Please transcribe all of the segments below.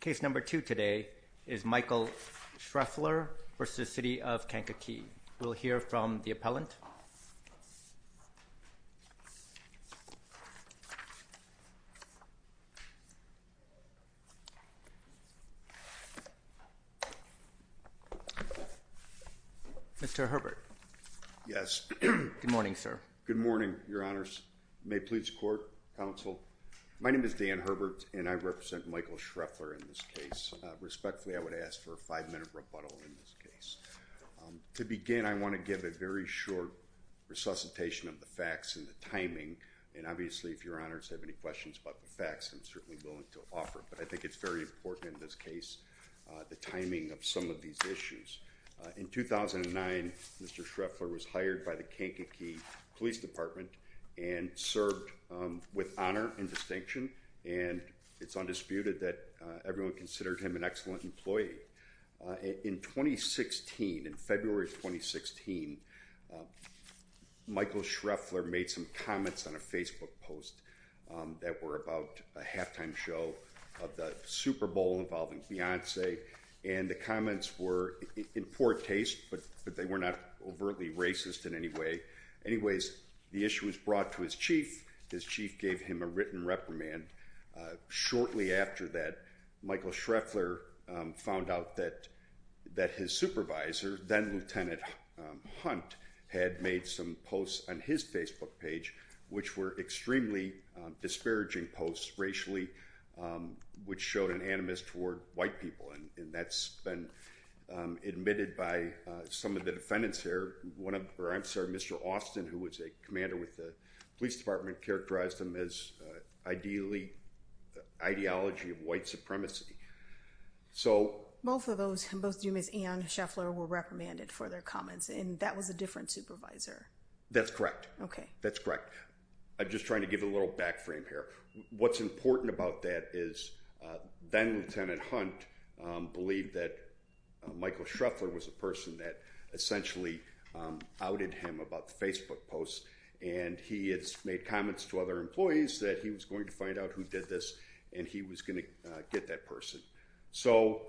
Case number two today is Michael Shreffler v. City of Kankakee. We'll hear from the appellant. Mr. Herbert. Yes. Good morning sir. Good morning Your Honors. May it please the court, counsel. My name is Dan Herbert and I represent Michael Shreffler in this case. Respectfully I would ask for a five-minute rebuttal in this case. To begin I want to give a very short resuscitation of the facts and the timing and obviously if Your Honors have any questions about the facts I'm certainly willing to offer but I think it's very important in this case the timing of some of these issues. In 2009 Mr. Shreffler was hired by the Kankakee Police Department and served with honor and distinction and it's undisputed that everyone considered him an excellent employee. In 2016, in February of 2016, Michael Shreffler made some comments on a Facebook post that were about a halftime show of the Super Bowl involving Beyonce and the comments were in poor taste but they were not overtly racist in any way. Anyways, the issue was brought to his chief. His chief gave him a written reprimand. Shortly after that Michael Shreffler found out that that his supervisor, then-Lieutenant Hunt, had made some posts on his Facebook page which were extremely disparaging posts racially which showed an animus toward white people and that's been admitted by some of the defendants here. One of, or I'm sorry, Mr. Austin who was a commander with the police department characterized them as ideally ideology of white supremacy. So... Both of those, both Dumas and Shreffler were reprimanded for their comments and that was a different supervisor? That's correct. Okay. That's important about that is then-Lieutenant Hunt believed that Michael Shreffler was a person that essentially outed him about the Facebook posts and he had made comments to other employees that he was going to find out who did this and he was going to get that person. So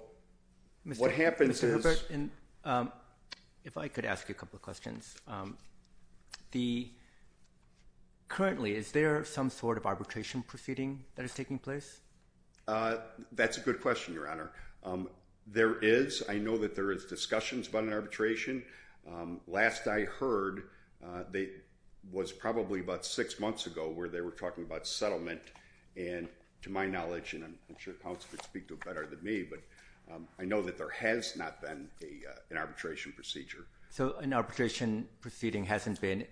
what happens is... Mr. Herbert, if I could ask you a couple of questions. Currently, is there some sort of arbitration that is taking place? That's a good question, Your Honor. There is. I know that there is discussions about an arbitration. Last I heard, that was probably about six months ago where they were talking about settlement and to my knowledge, and I'm sure counsel could speak to it better than me, but I know that there has not been an arbitration procedure. So an arbitration proceeding hasn't been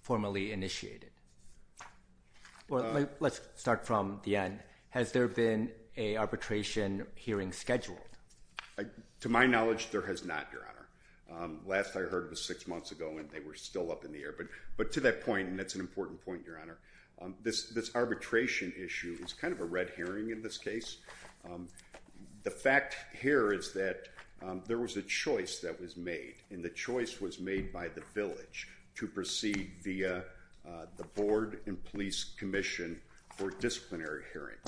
formally initiated. Well, let's start from the end. Has there been an arbitration hearing scheduled? To my knowledge, there has not, Your Honor. Last I heard was six months ago and they were still up in the air, but to that point, and that's an important point, Your Honor, this arbitration issue is kind of a red hearing in this case. The fact here is that there was a choice that was made and the choice was made by the village to proceed via the Board and Police Commission for disciplinary hearing.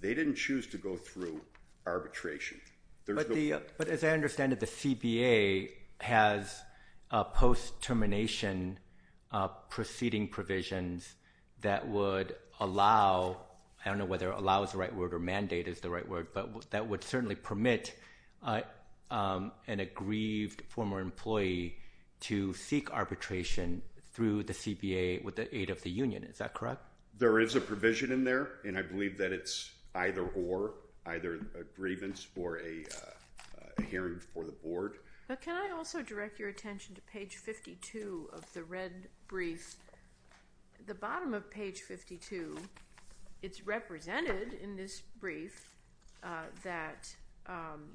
They didn't choose to go through arbitration. But as I understand it, the CBA has post-termination proceeding provisions that would allow, I don't know whether allow is the right word or mandate is the right word, but that would certainly permit an aggrieved former employee to seek arbitration through the CBA with the aid of the union. Is that correct? There is a provision in there and I believe that it's either or, either a grievance or a hearing for the Board. Can I also direct your attention to page 52 of the red brief? The bottom of page 52, it's represented in this brief that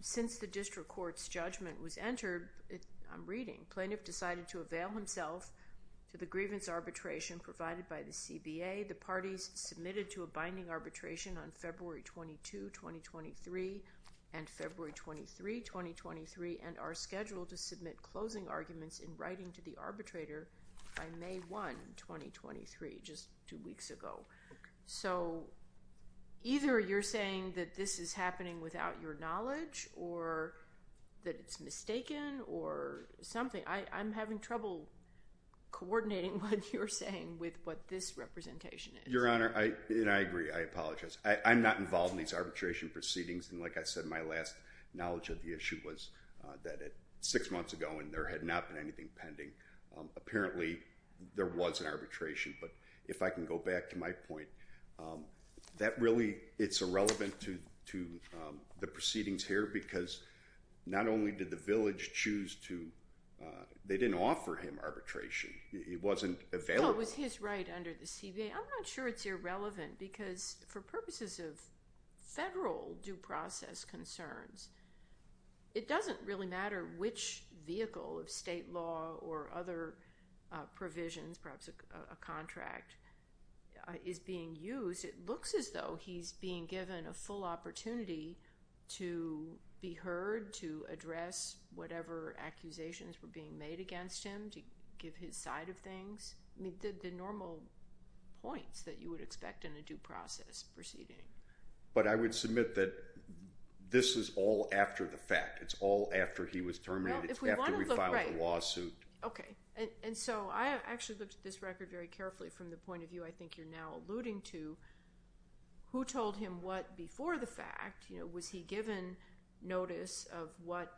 since the district court's judgment was entered, I'm reading, plaintiff decided to avail himself to the grievance arbitration provided by the CBA. The parties submitted to a binding arbitration on February 22, 2023 and February 23, 2023 and are scheduled to submit closing arguments in writing to the arbitrator by May 1, 2023, just two weeks ago. So either you're saying that this is happening without your knowledge or that it's mistaken or something. I'm having trouble coordinating what you're saying with what this representation is. Your Honor, I agree. I apologize. I'm not involved in these arbitration proceedings and like I said, my last knowledge of the issue was that at six nothing pending. Apparently there was an arbitration but if I can go back to my point, that really it's irrelevant to the proceedings here because not only did the village choose to, they didn't offer him arbitration. It wasn't available. It was his right under the CBA. I'm not sure it's irrelevant because for purposes of federal due process concerns, it doesn't really matter which vehicle of state law or other provisions, perhaps a contract, is being used. It looks as though he's being given a full opportunity to be heard, to address whatever accusations were being made against him, to give his side of things. I mean the normal points that you would expect in a due process proceeding. But I would submit that this is all after the fact. It's all after he was terminated. It's after we filed the lawsuit. Okay. And so I actually looked at this record very carefully from the point of view I think you're now alluding to. Who told him what before the fact? Was he given notice of what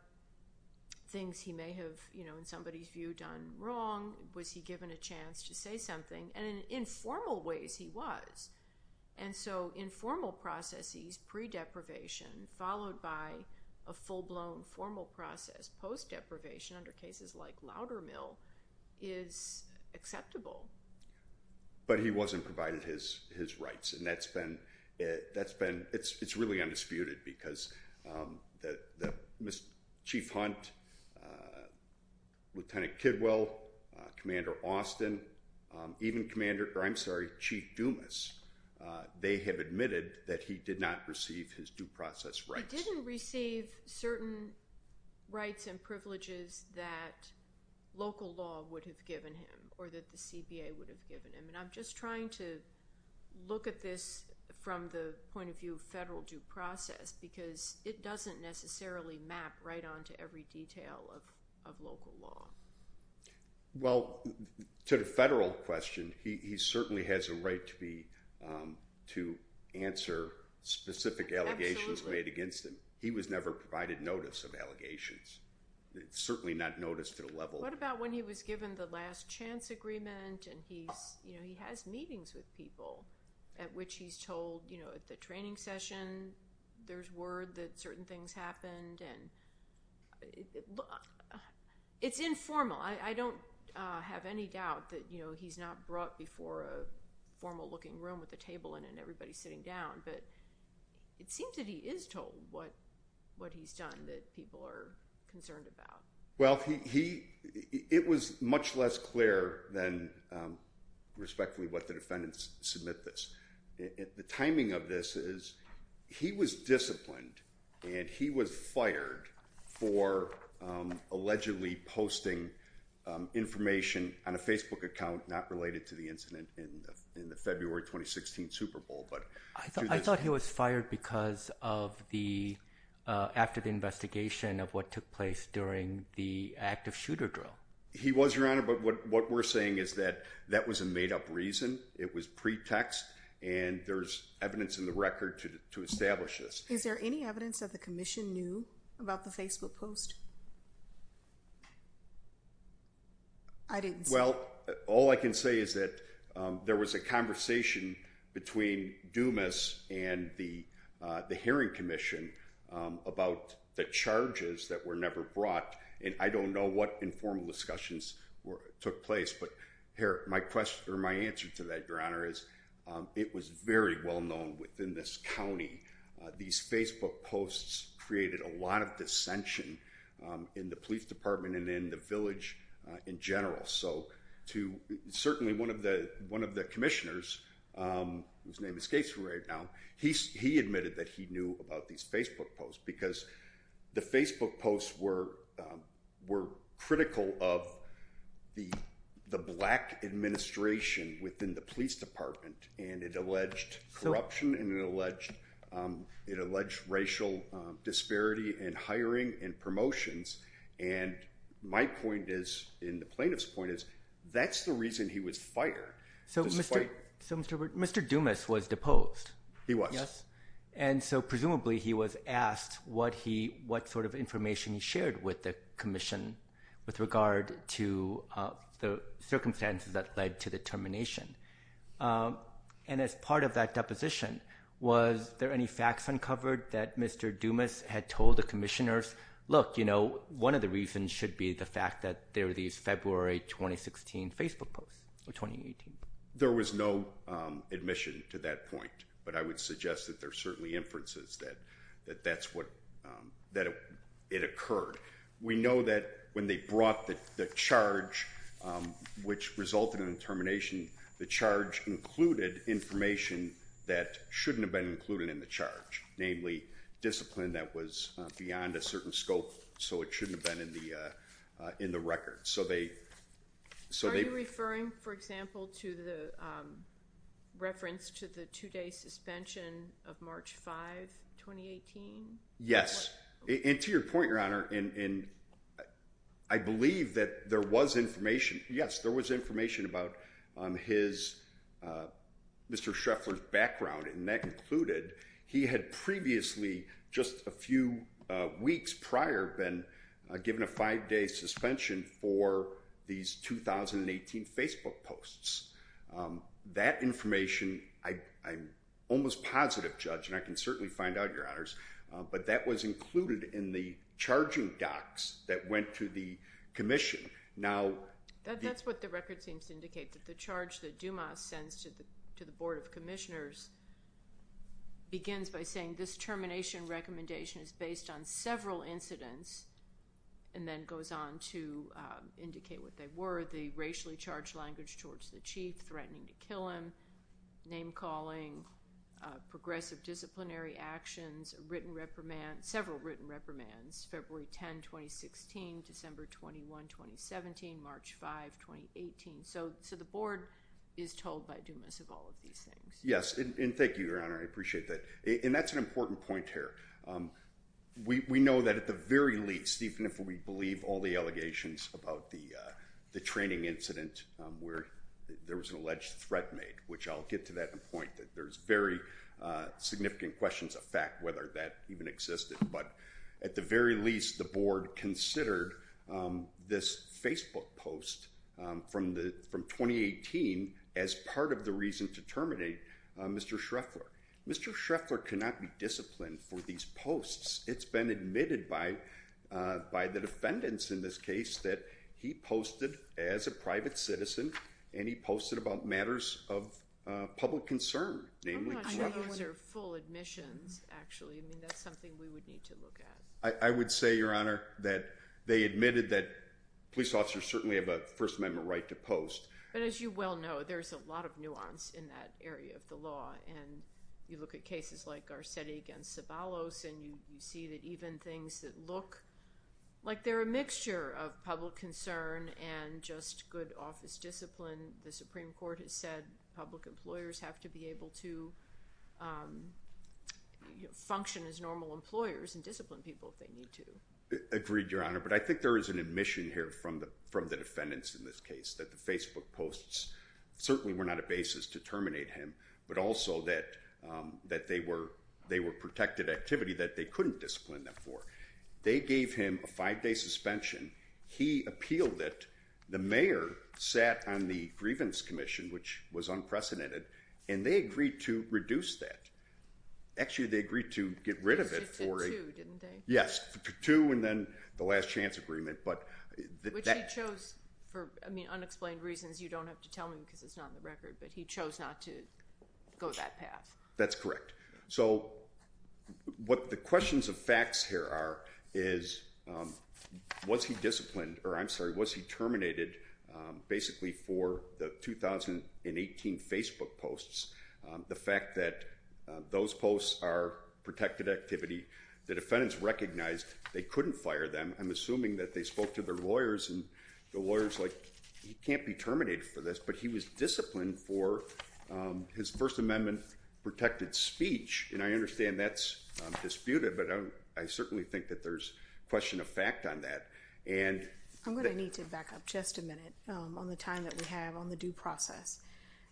things he may have, in somebody's view, done wrong? Was he given a chance to say something? And in informal ways he was. And so in formal processes, pre-deprivation followed by a full-blown formal process post-deprivation under cases like Loudermill is acceptable. But he wasn't provided his rights and that's been, it's really undisputed because Chief Hunt, Lieutenant Kidwell, Commander Austin, even Commander, I'm sorry, Chief Dumas, they have admitted that he did not receive his due process rights. He didn't receive certain rights and privileges that local law would have given him or that the CBA would have given him. And I'm just trying to look at this from the point of view of federal due process because it doesn't necessarily map right on to every detail of local law. Well to the federal question, he certainly has a right to be, to answer specific allegations made against him. He was never provided notice of allegations. Certainly not noticed to the level. What about when he was given the last chance agreement and he's, you know, he has meetings with people at which he's told, you know, at the training session there's word that certain things happened and it's informal. I don't have any doubt that, you know, he's not brought before a formal looking room with a table and everybody sitting down. But it seems that he is told what what he's done that people are concerned about. Well he, it was much less clear than respectfully what the defendants submit this. The was disciplined and he was fired for allegedly posting information on a Facebook account not related to the incident in the February 2016 Super Bowl. But I thought he was fired because of the, after the investigation of what took place during the active shooter drill. He was, Your Honor, but what we're saying is that that was a made-up reason. It was pretext and there's evidence in the Is there any evidence that the Commission knew about the Facebook post? I didn't see. Well all I can say is that there was a conversation between Dumas and the the Hearing Commission about the charges that were never brought and I don't know what informal discussions were took place. But here my question or answer to that, Your Honor, is it was very well known within this county. These Facebook posts created a lot of dissension in the police department and in the village in general. So to, certainly one of the one of the commissioners, whose name escapes me right now, he admitted that he knew about these Facebook posts because the Facebook posts were were critical of the black administration within the police department and it alleged corruption and it alleged it alleged racial disparity in hiring and promotions and my point is in the plaintiff's point is that's the reason he was fired. So Mr. Dumas was deposed. He was. Yes. And so presumably he was asked what he what sort of circumstances that led to the termination and as part of that deposition was there any facts uncovered that Mr. Dumas had told the commissioners look you know one of the reasons should be the fact that there were these February 2016 Facebook posts or 2018. There was no admission to that point but I would suggest that there are certainly inferences that that that's what that it occurred. We know that when they brought the charge which resulted in termination the charge included information that shouldn't have been included in the charge. Namely, discipline that was beyond a certain scope so it shouldn't have been in the in the record. So they so they referring for example to the reference to the two-day suspension of March 5, 2018? Yes. And to your point your honor and I believe that there was information yes there was information about his Mr. Schreffler's background and that included he had previously just a few weeks prior been given a five-day suspension for these 2018 Facebook posts. That information I'm almost positive judge and I can certainly find out your honors but that was included in the charging docs that went to the Commission. Now that's what the record seems to indicate that the charge that Dumas sends to the to the Board of Commissioners begins by saying this termination recommendation is based on several incidents and then goes on to indicate what they were the racially charged language towards the chief threatening to kill him, name-calling, progressive disciplinary actions, written reprimand, several written reprimands, February 10, 2016, December 21, 2017, March 5, 2018. So so the board is told by Dumas of all of these things. Yes and thank you your honor I appreciate that and that's an important point here. We know that at the very least even if we believe all the allegations about the the training incident where there was an alleged threat made which I'll get to that point that there's very significant questions of fact whether that even existed but at the very least the board considered this Facebook post from the from 2018 as part of the reason to terminate Mr. Schreffler. Mr. Schreffler cannot be disciplined for these posts. It's been admitted by by the defendants in this case that he posted as a private citizen and he posted about matters of public concern. I'm not sure those are full admissions actually. I mean that's something we would need to look at. I would say your honor that they admitted that police officers certainly have a First Amendment right to post. But as you well know there's a lot of nuance in that area of the law and you look at cases like Garcetti against Sabalos and you see that even things that look like they're a mixture of public concern and just good office discipline the Supreme Court has said public employers have to be able to function as normal employers and discipline people if they need to. Agreed your honor but I think there is an admission here from the from the defendants in this case that the Facebook posts certainly were not a basis to terminate him but also that that they were they were protected activity that they couldn't discipline them for. They gave him a five-day suspension. He appealed it. The mayor sat on the Grievance Commission which was unprecedented and they agreed to reduce that. Actually they agreed to get rid of it. Yes two and then the last chance agreement. Which he chose for unexplained reasons you don't have to tell me but he chose not to go that path. That's correct. So what the questions of facts here are is was he disciplined or I'm sorry was he terminated basically for the 2018 Facebook posts the fact that those posts are protected activity the defendants recognized they couldn't fire them I'm assuming that they spoke to their lawyers and the lawyers like he can't be terminated for this but he was disciplined for his First Amendment protected speech and I understand that's disputed but I certainly think that there's question of fact on that and I'm going to need to back up just a minute on the time that we have on the due process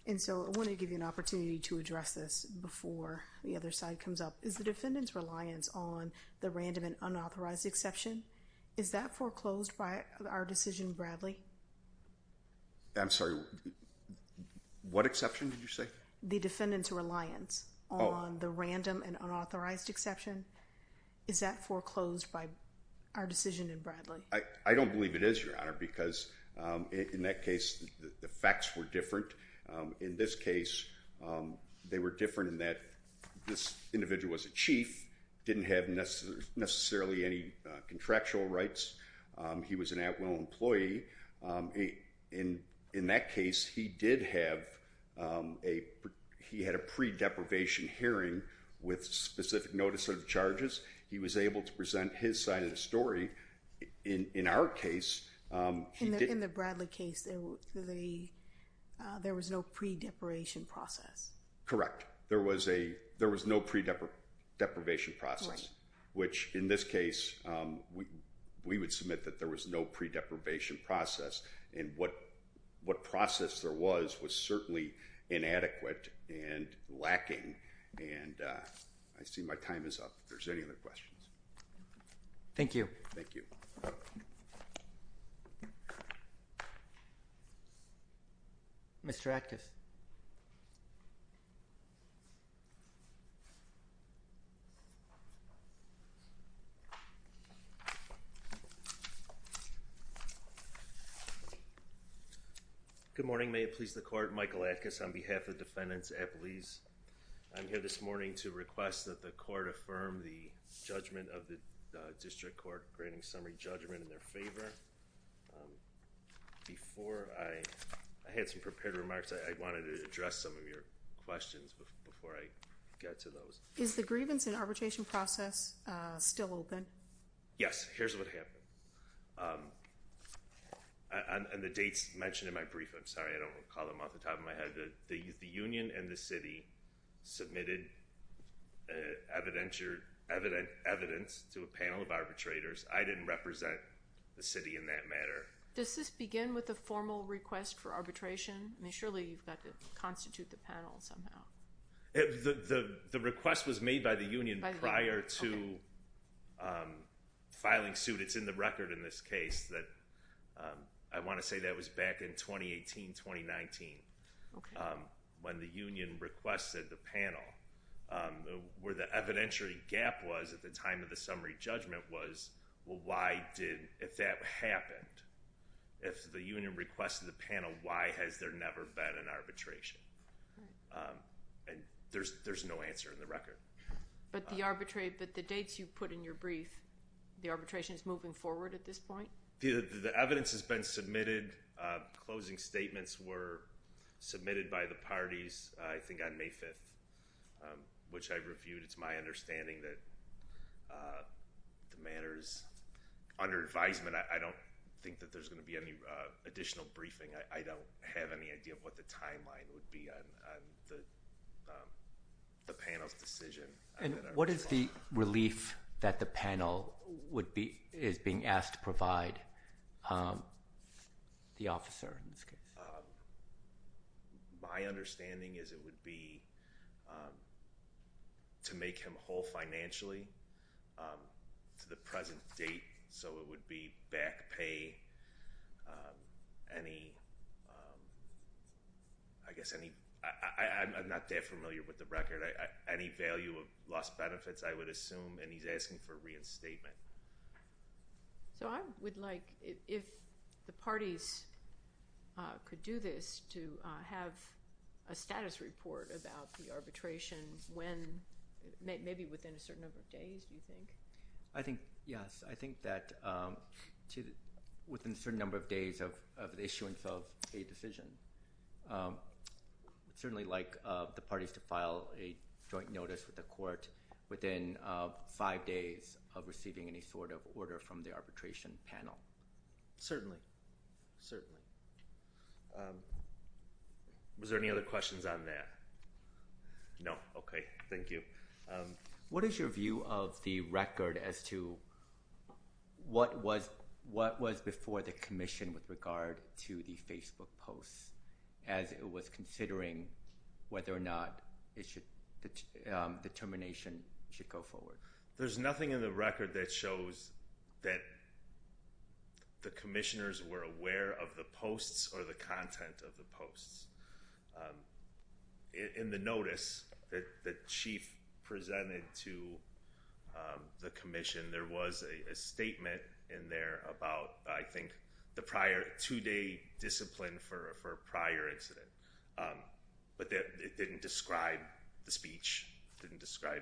and so I want to give you an opportunity to address this before the other side comes up is the defendants reliance on the random and unauthorized exception is that foreclosed by our decision Bradley I'm sorry what exception did you say the defendants reliance on the random and unauthorized exception is that foreclosed by our decision in Bradley I don't believe it is your honor because in that case the facts were different in this case they were different in that this individual was a chief didn't have necessarily any contractual rights he was an at-will employee in in that case he did have a he had a pre-deprivation hearing with specific notice of charges he was able to present his side of the story in our case in the Bradley case there was no pre-deprivation process correct there was a there was no pre-deprivation process which in this case we we would submit that there was no pre-deprivation process and what what process there was was certainly inadequate and lacking and I see my time is up there's any other questions thank you thank you mr. active you good morning may it please the court Michael Atkins on behalf of defendants at police I'm here this morning to request that the court affirm the judgment of the district court granting summary judgment in their favor before I had some prepared remarks I wanted to address some of your questions before I is the grievance in arbitration process still open yes here's what happened and the dates mentioned in my brief I'm sorry I don't recall them off the top of my head the the Union and the city submitted evident your evident evidence to a panel of arbitrators I didn't represent the city in that matter does this begin with a formal request for arbitration I mean surely you've got to the request was made by the Union prior to filing suit it's in the record in this case that I want to say that was back in 2018 2019 when the Union requested the panel where the evidentiary gap was at the time of the summary judgment was well why did if that happened if the Union requested the answer in the record but the arbitrary but the dates you put in your brief the arbitration is moving forward at this point the evidence has been submitted closing statements were submitted by the parties I think on May 5th which I reviewed it's my understanding that the matters under advisement I don't think that there's gonna be any additional briefing I don't have any idea of what the timeline would be the panel's decision and what is the relief that the panel would be is being asked to provide the officer in this case my understanding is it would be to make him whole financially to the present date so it would be back pay any I guess any I'm not that familiar with the record any value of lost benefits I would assume and he's asking for reinstatement so I would like if the parties could do this to have a status report about the arbitration when maybe within a certain number of days do you think I think yes I think that to within certain number of days of the issuance of a decision certainly like the parties to file a joint notice with the court within five days of receiving any sort of order from the arbitration panel certainly certainly was there any other questions on that no okay thank you what is your view of the record as to what was what was before the Commission with regard to the Facebook posts as it was considering whether or not it should determination should go forward there's nothing in the record that shows that the commissioners were aware of the posts or the content of the posts in the notice that the the Commission there was a statement in there about I think the prior two-day discipline for a prior incident but that it didn't describe the speech didn't describe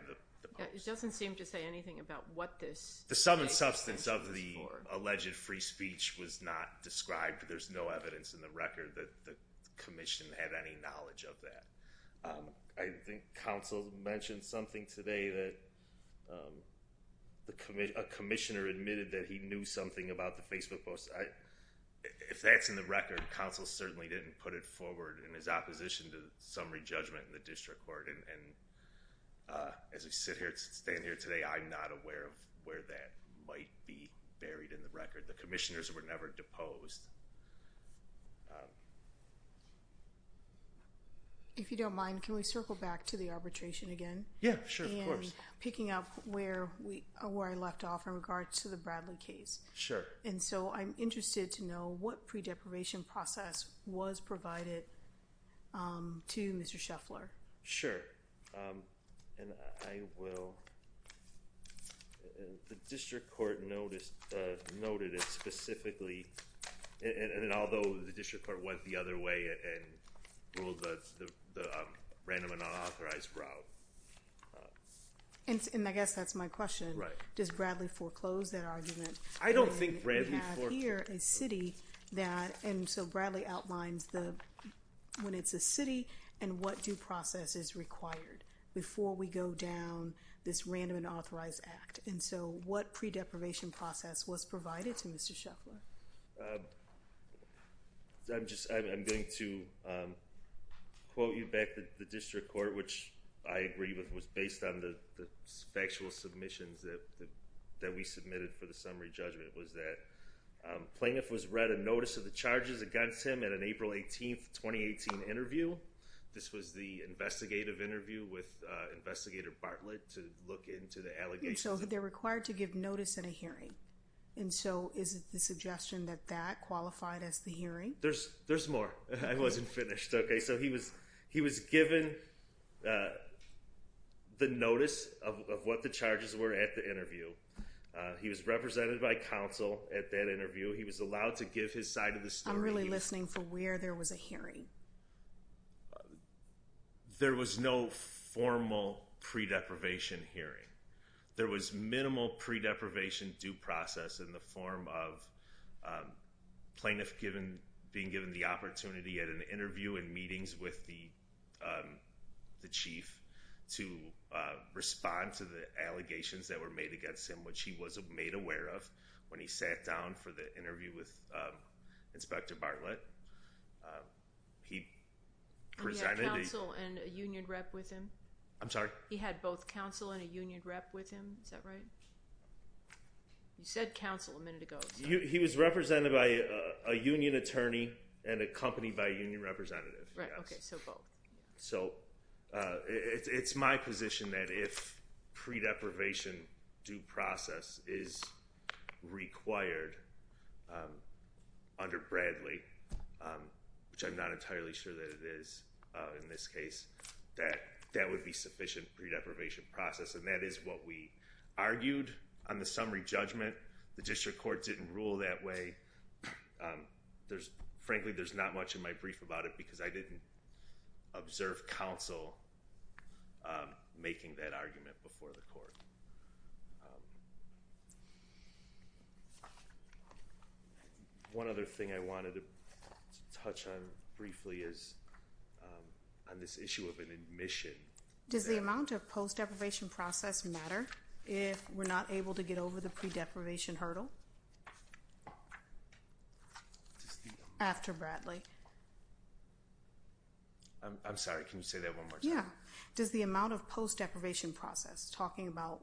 it doesn't seem to say anything about what this the sum and substance of the alleged free speech was not described there's no evidence in the record that the Commission had any knowledge of that I think counsel mentioned something today that the committee a commissioner admitted that he knew something about the Facebook post I if that's in the record counsel certainly didn't put it forward in his opposition to summary judgment in the district court and as we sit here to stand here today I'm not aware of where that might be buried in the record the commissioners were never deposed if you don't mind can we circle back to the arbitration again yeah sure picking up where we are where I left off in regards to the Bradley case sure and so I'm interested to know what pre-deprivation process was provided to mr. Scheffler sure and I will the district court noticed noted it specifically and random and unauthorized route and I guess that's my question right does Bradley foreclose that argument I don't think here a city that and so Bradley outlines the when it's a city and what due process is required before we go down this random and authorized act and so what pre-deprivation process was the district court which I agree with was based on the factual submissions that that we submitted for the summary judgment was that plaintiff was read a notice of the charges against him at an April 18th 2018 interview this was the investigative interview with investigator Bartlett to look into the allegations so they're required to give notice in a hearing and so is it the suggestion that that qualified as the hearing there's there's more I wasn't finished okay so he was he was given the notice of what the charges were at the interview he was represented by counsel at that interview he was allowed to give his side of the story I'm really listening for where there was a hearing there was no formal pre-deprivation hearing there was minimal pre-deprivation due process in the form of plaintiff given being given the opportunity at an interview and meetings with the the chief to respond to the allegations that were made against him which he was made aware of when he sat down for the interview with inspector Bartlett he presented counsel and a union rep with him I'm sorry he had both counsel and a union rep with him is that right you said counsel a minute ago he was represented by a union attorney and a by union representative so it's my position that if pre-deprivation due process is required under Bradley which I'm not entirely sure that it is in this case that that would be sufficient pre-deprivation process and that is what we argued on the summary judgment the district court didn't rule that way there's frankly there's not much in my brief about it because I didn't observe counsel making that argument before the court one other thing I wanted to touch on briefly is on this issue of an admission does the amount of post deprivation process matter if we're not able to get over the pre-deprivation hurdle after Bradley I'm sorry can you say that one more time yeah does the amount of post deprivation process talking about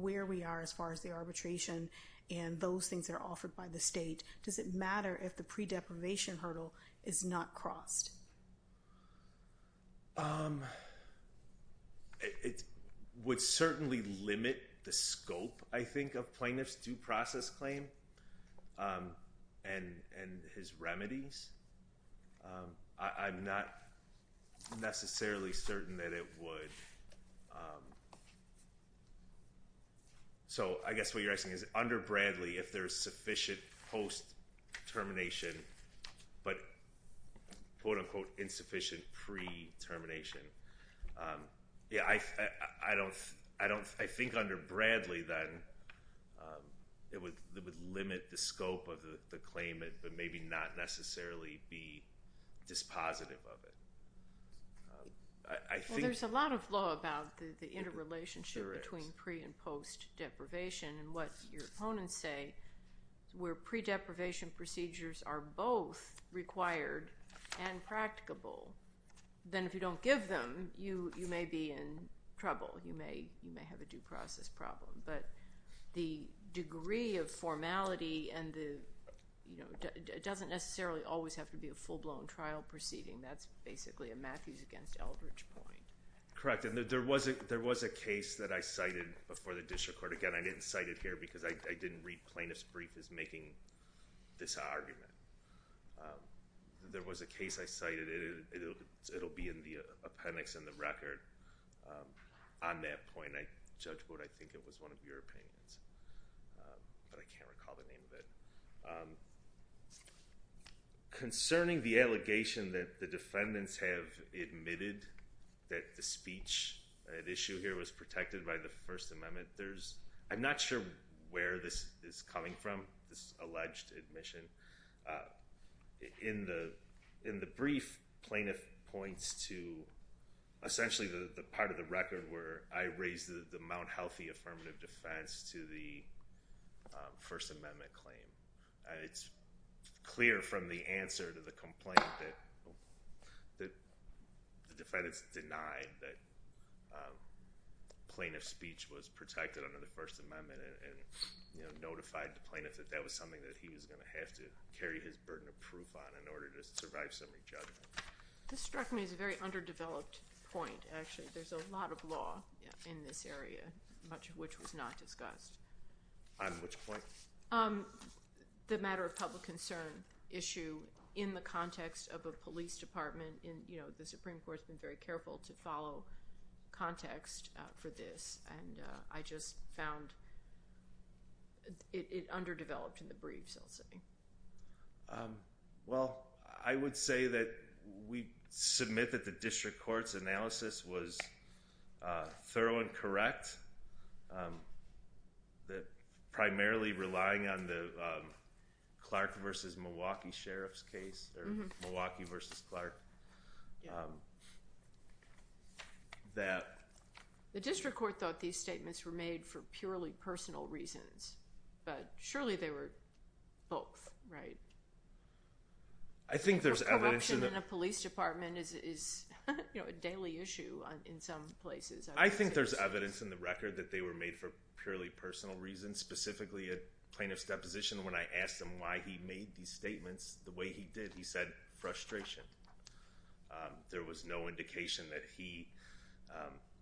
where we are as far as the arbitration and those things are offered by the state does it matter if the pre-deprivation hurdle is not crossed it would certainly limit the scope I think plaintiff's due process claim and and his remedies I'm not necessarily certain that it would so I guess what you're asking is under Bradley if there's sufficient post termination but quote-unquote insufficient pre termination yeah I I don't I don't I think under Bradley then it would limit the scope of the claimant but maybe not necessarily be dispositive of it I think there's a lot of law about the interrelationship between pre and post deprivation and what your opponents say we're pre deprivation procedures are both required and practicable then if you don't give them you you may be in trouble you may you may have a due process problem but the degree of formality and the you know it doesn't necessarily always have to be a full-blown trial proceeding that's basically a Matthews against Eldridge point correct and there was a there was a case that I cited before the district court again I didn't cite it here because I didn't read plaintiff's brief is making this argument there was a case I cited it'll be in the appendix in the record on that point I judge what I think it was one of your opinions but I can't recall the name of it concerning the allegation that the defendants have admitted that the speech at issue here was protected by the First Amendment there's I'm not sure where this is coming from this alleged admission in the in the brief plaintiff points to essentially the part of the record where I raised the the Mount Healthy affirmative defense to the First Amendment claim it's clear from the plaintiff speech was protected under the First Amendment and you know notified the plaintiffs that that was something that he was gonna have to carry his burden of proof on in order to survive summary judgment this struck me is a very underdeveloped point actually there's a lot of law in this area much of which was not discussed on which point the matter of public concern issue in the context of a police department in you know the Supreme Court's been very careful to follow context for this and I just found it underdeveloped in the briefs I'll say well I would say that we submit that the district court's analysis was thorough and correct that primarily relying on the Clark versus that the district court thought these statements were made for purely personal reasons but surely they were both right I think there's a police department is you know a daily issue in some places I think there's evidence in the record that they were made for purely personal reasons specifically a plaintiff's deposition when I asked him why he made these statements the way he did he said frustration there was no indication that he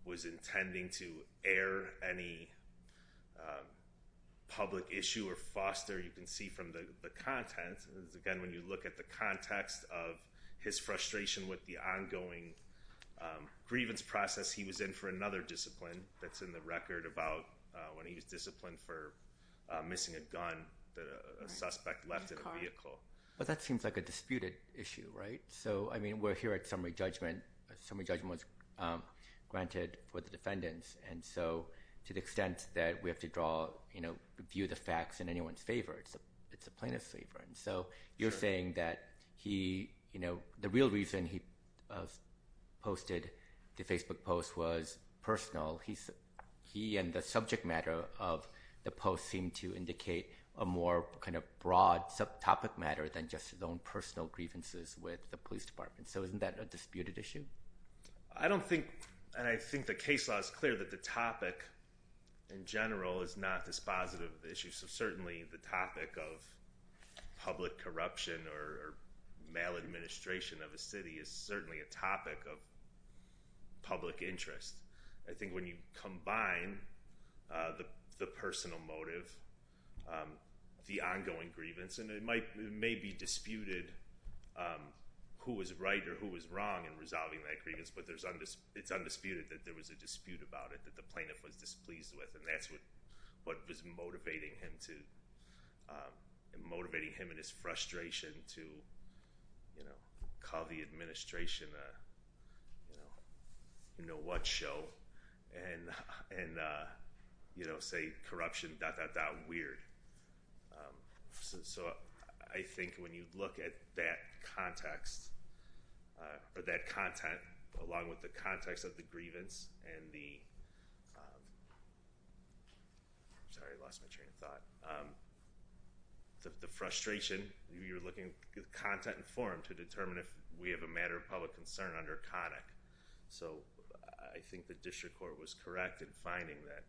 was intending to air any public issue or foster you can see from the content again when you look at the context of his frustration with the ongoing grievance process he was in for another discipline that's in the record about when he was disciplined for missing a gun but that seems like a disputed issue right so I mean we're here at summary judgment summary judgment granted for the defendants and so to the extent that we have to draw you know view the facts in anyone's favor it's a it's a plaintiff's favor and so you're saying that he you know the real reason he posted the Facebook post was personal he said he and the more kind of broad subtopic matter than just his own personal grievances with the police department so isn't that a disputed issue I don't think and I think the case law is clear that the topic in general is not dispositive issues so certainly the topic of public corruption or maladministration of a city is certainly a topic of public interest I think when you combine the personal motive the ongoing grievance and it might may be disputed who was right or who was wrong and resolving that grievance but there's on this it's undisputed that there was a dispute about it that the plaintiff was displeased with and that's what what was motivating him to motivating him in his frustration to you know call the administration you know you know what and and you know say corruption that that that weird so I think when you look at that context or that content along with the context of the grievance and the sorry I lost my train of thought the frustration you're looking content and forum to determine if we have a matter of public concern under conic so I think the district court was correct in finding that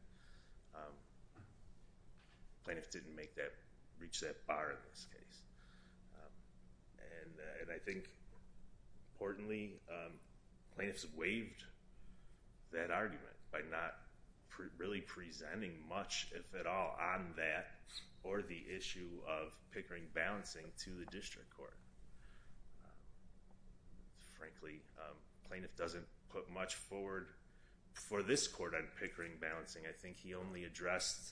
plaintiff didn't make that reach that bar in this case and I think importantly plaintiffs waived that argument by not really presenting much if at all on that or the issue of Pickering balancing to the district court frankly plaintiff doesn't put much forward for this court on Pickering balancing I think he only addressed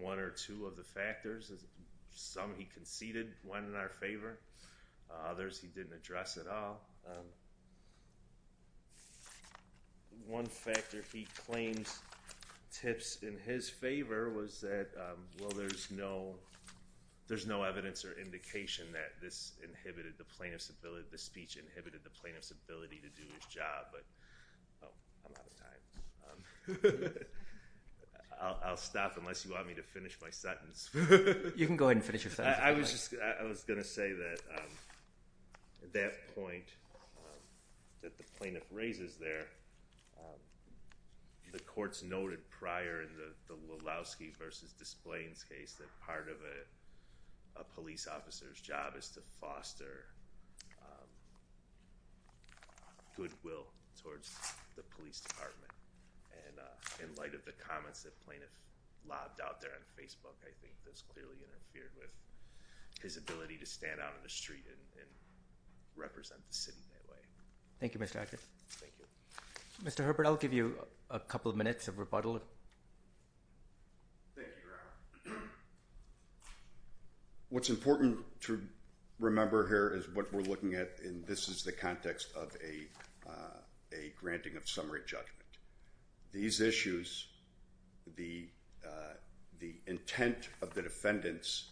one or two of the factors as some he conceded one in our favor others he didn't address at all one factor he claims tips in his favor was that well there's no there's no evidence or indication that this inhibited the plaintiff's ability to speech inhibited the plaintiff's ability to do his job but I'll stop unless you want me to finish my sentence you can go ahead and finish your I was just I was gonna say that at that point that the plaintiff raises there the courts noted prior in the Lulowsky versus displays case that part of a police officer's job is to foster goodwill towards the police department and in light of the comments that plaintiff lobbed out there on Facebook I think this clearly interfered with his ability to stand out in the street and represent the city that way thank you mr. actor thank you mr. Herbert I'll give you a couple of minutes of rebuttal what's important to remember here is what we're looking at in this is the context of a a granting of summary judgment these issues the the intent of the defendants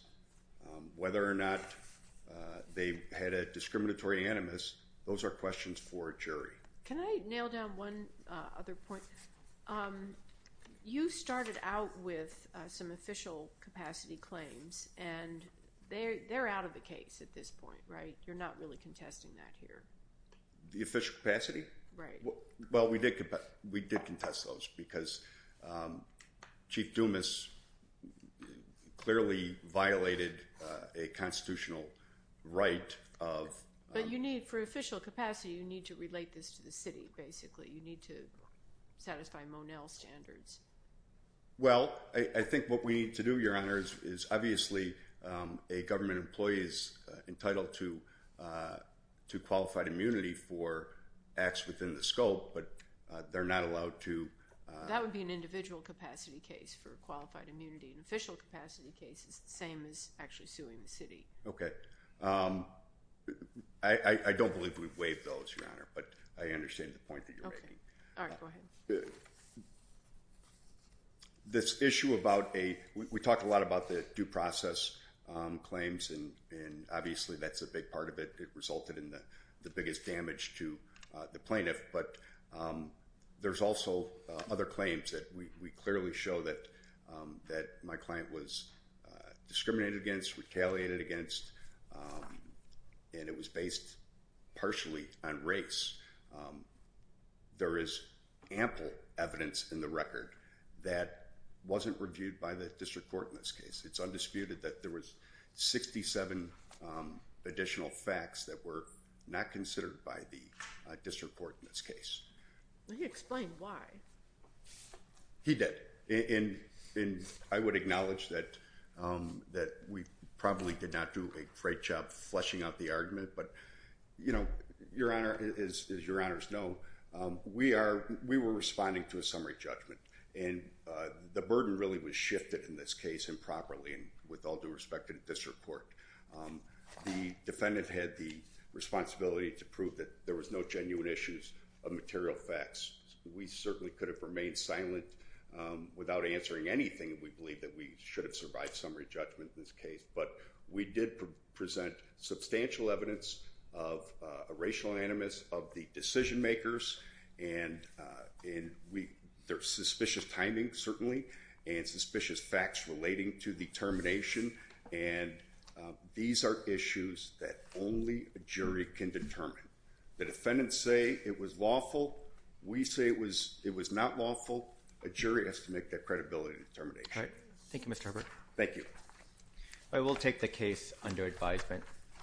whether or not they had a discriminatory animus those are questions for jury can I nail down one other point you started out with some official capacity claims and they're they're out of the case at this point right you're not really contesting that here the official capacity right well we did but we did contest those because chief Dumas clearly violated a need to relate this to the city basically you need to satisfy Monell standards well I think what we need to do your honors is obviously a government employees entitled to to qualified immunity for acts within the scope but they're not allowed to that would be an individual capacity case for qualified immunity an official capacity case is the same as actually suing the city okay I don't believe we've waived those your honor but I understand the point that you're making this issue about a we talked a lot about the due process claims and and obviously that's a big part of it it resulted in the the biggest damage to the plaintiff but there's also other claims that we clearly show that that my client was discriminated against retaliated against and it was based partially on race there is ample evidence in the record that wasn't reviewed by the district court in this case it's undisputed that there was 67 additional facts that were not considered by the district court in this case he explained why he did in in I would acknowledge that that we probably did not do a great job fleshing out the argument but you know your honor is your honors no we are we were responding to a summary judgment and the burden really was shifted in this case improperly and with all due respect in district court the defendant had the responsibility to prove that there was no genuine issues of material facts we certainly could have remained silent without answering anything we believe that we should have survived summary judgment in this case but we did present substantial evidence of a racial animus of the decision-makers and in we their suspicious timing certainly and suspicious facts relating to the termination and these are issues that only a jury can determine the defendants say it was lawful we say it was it was not lawful a jury has to make that credibility determination thank you Mr. Herbert thank you I will take the case under advisement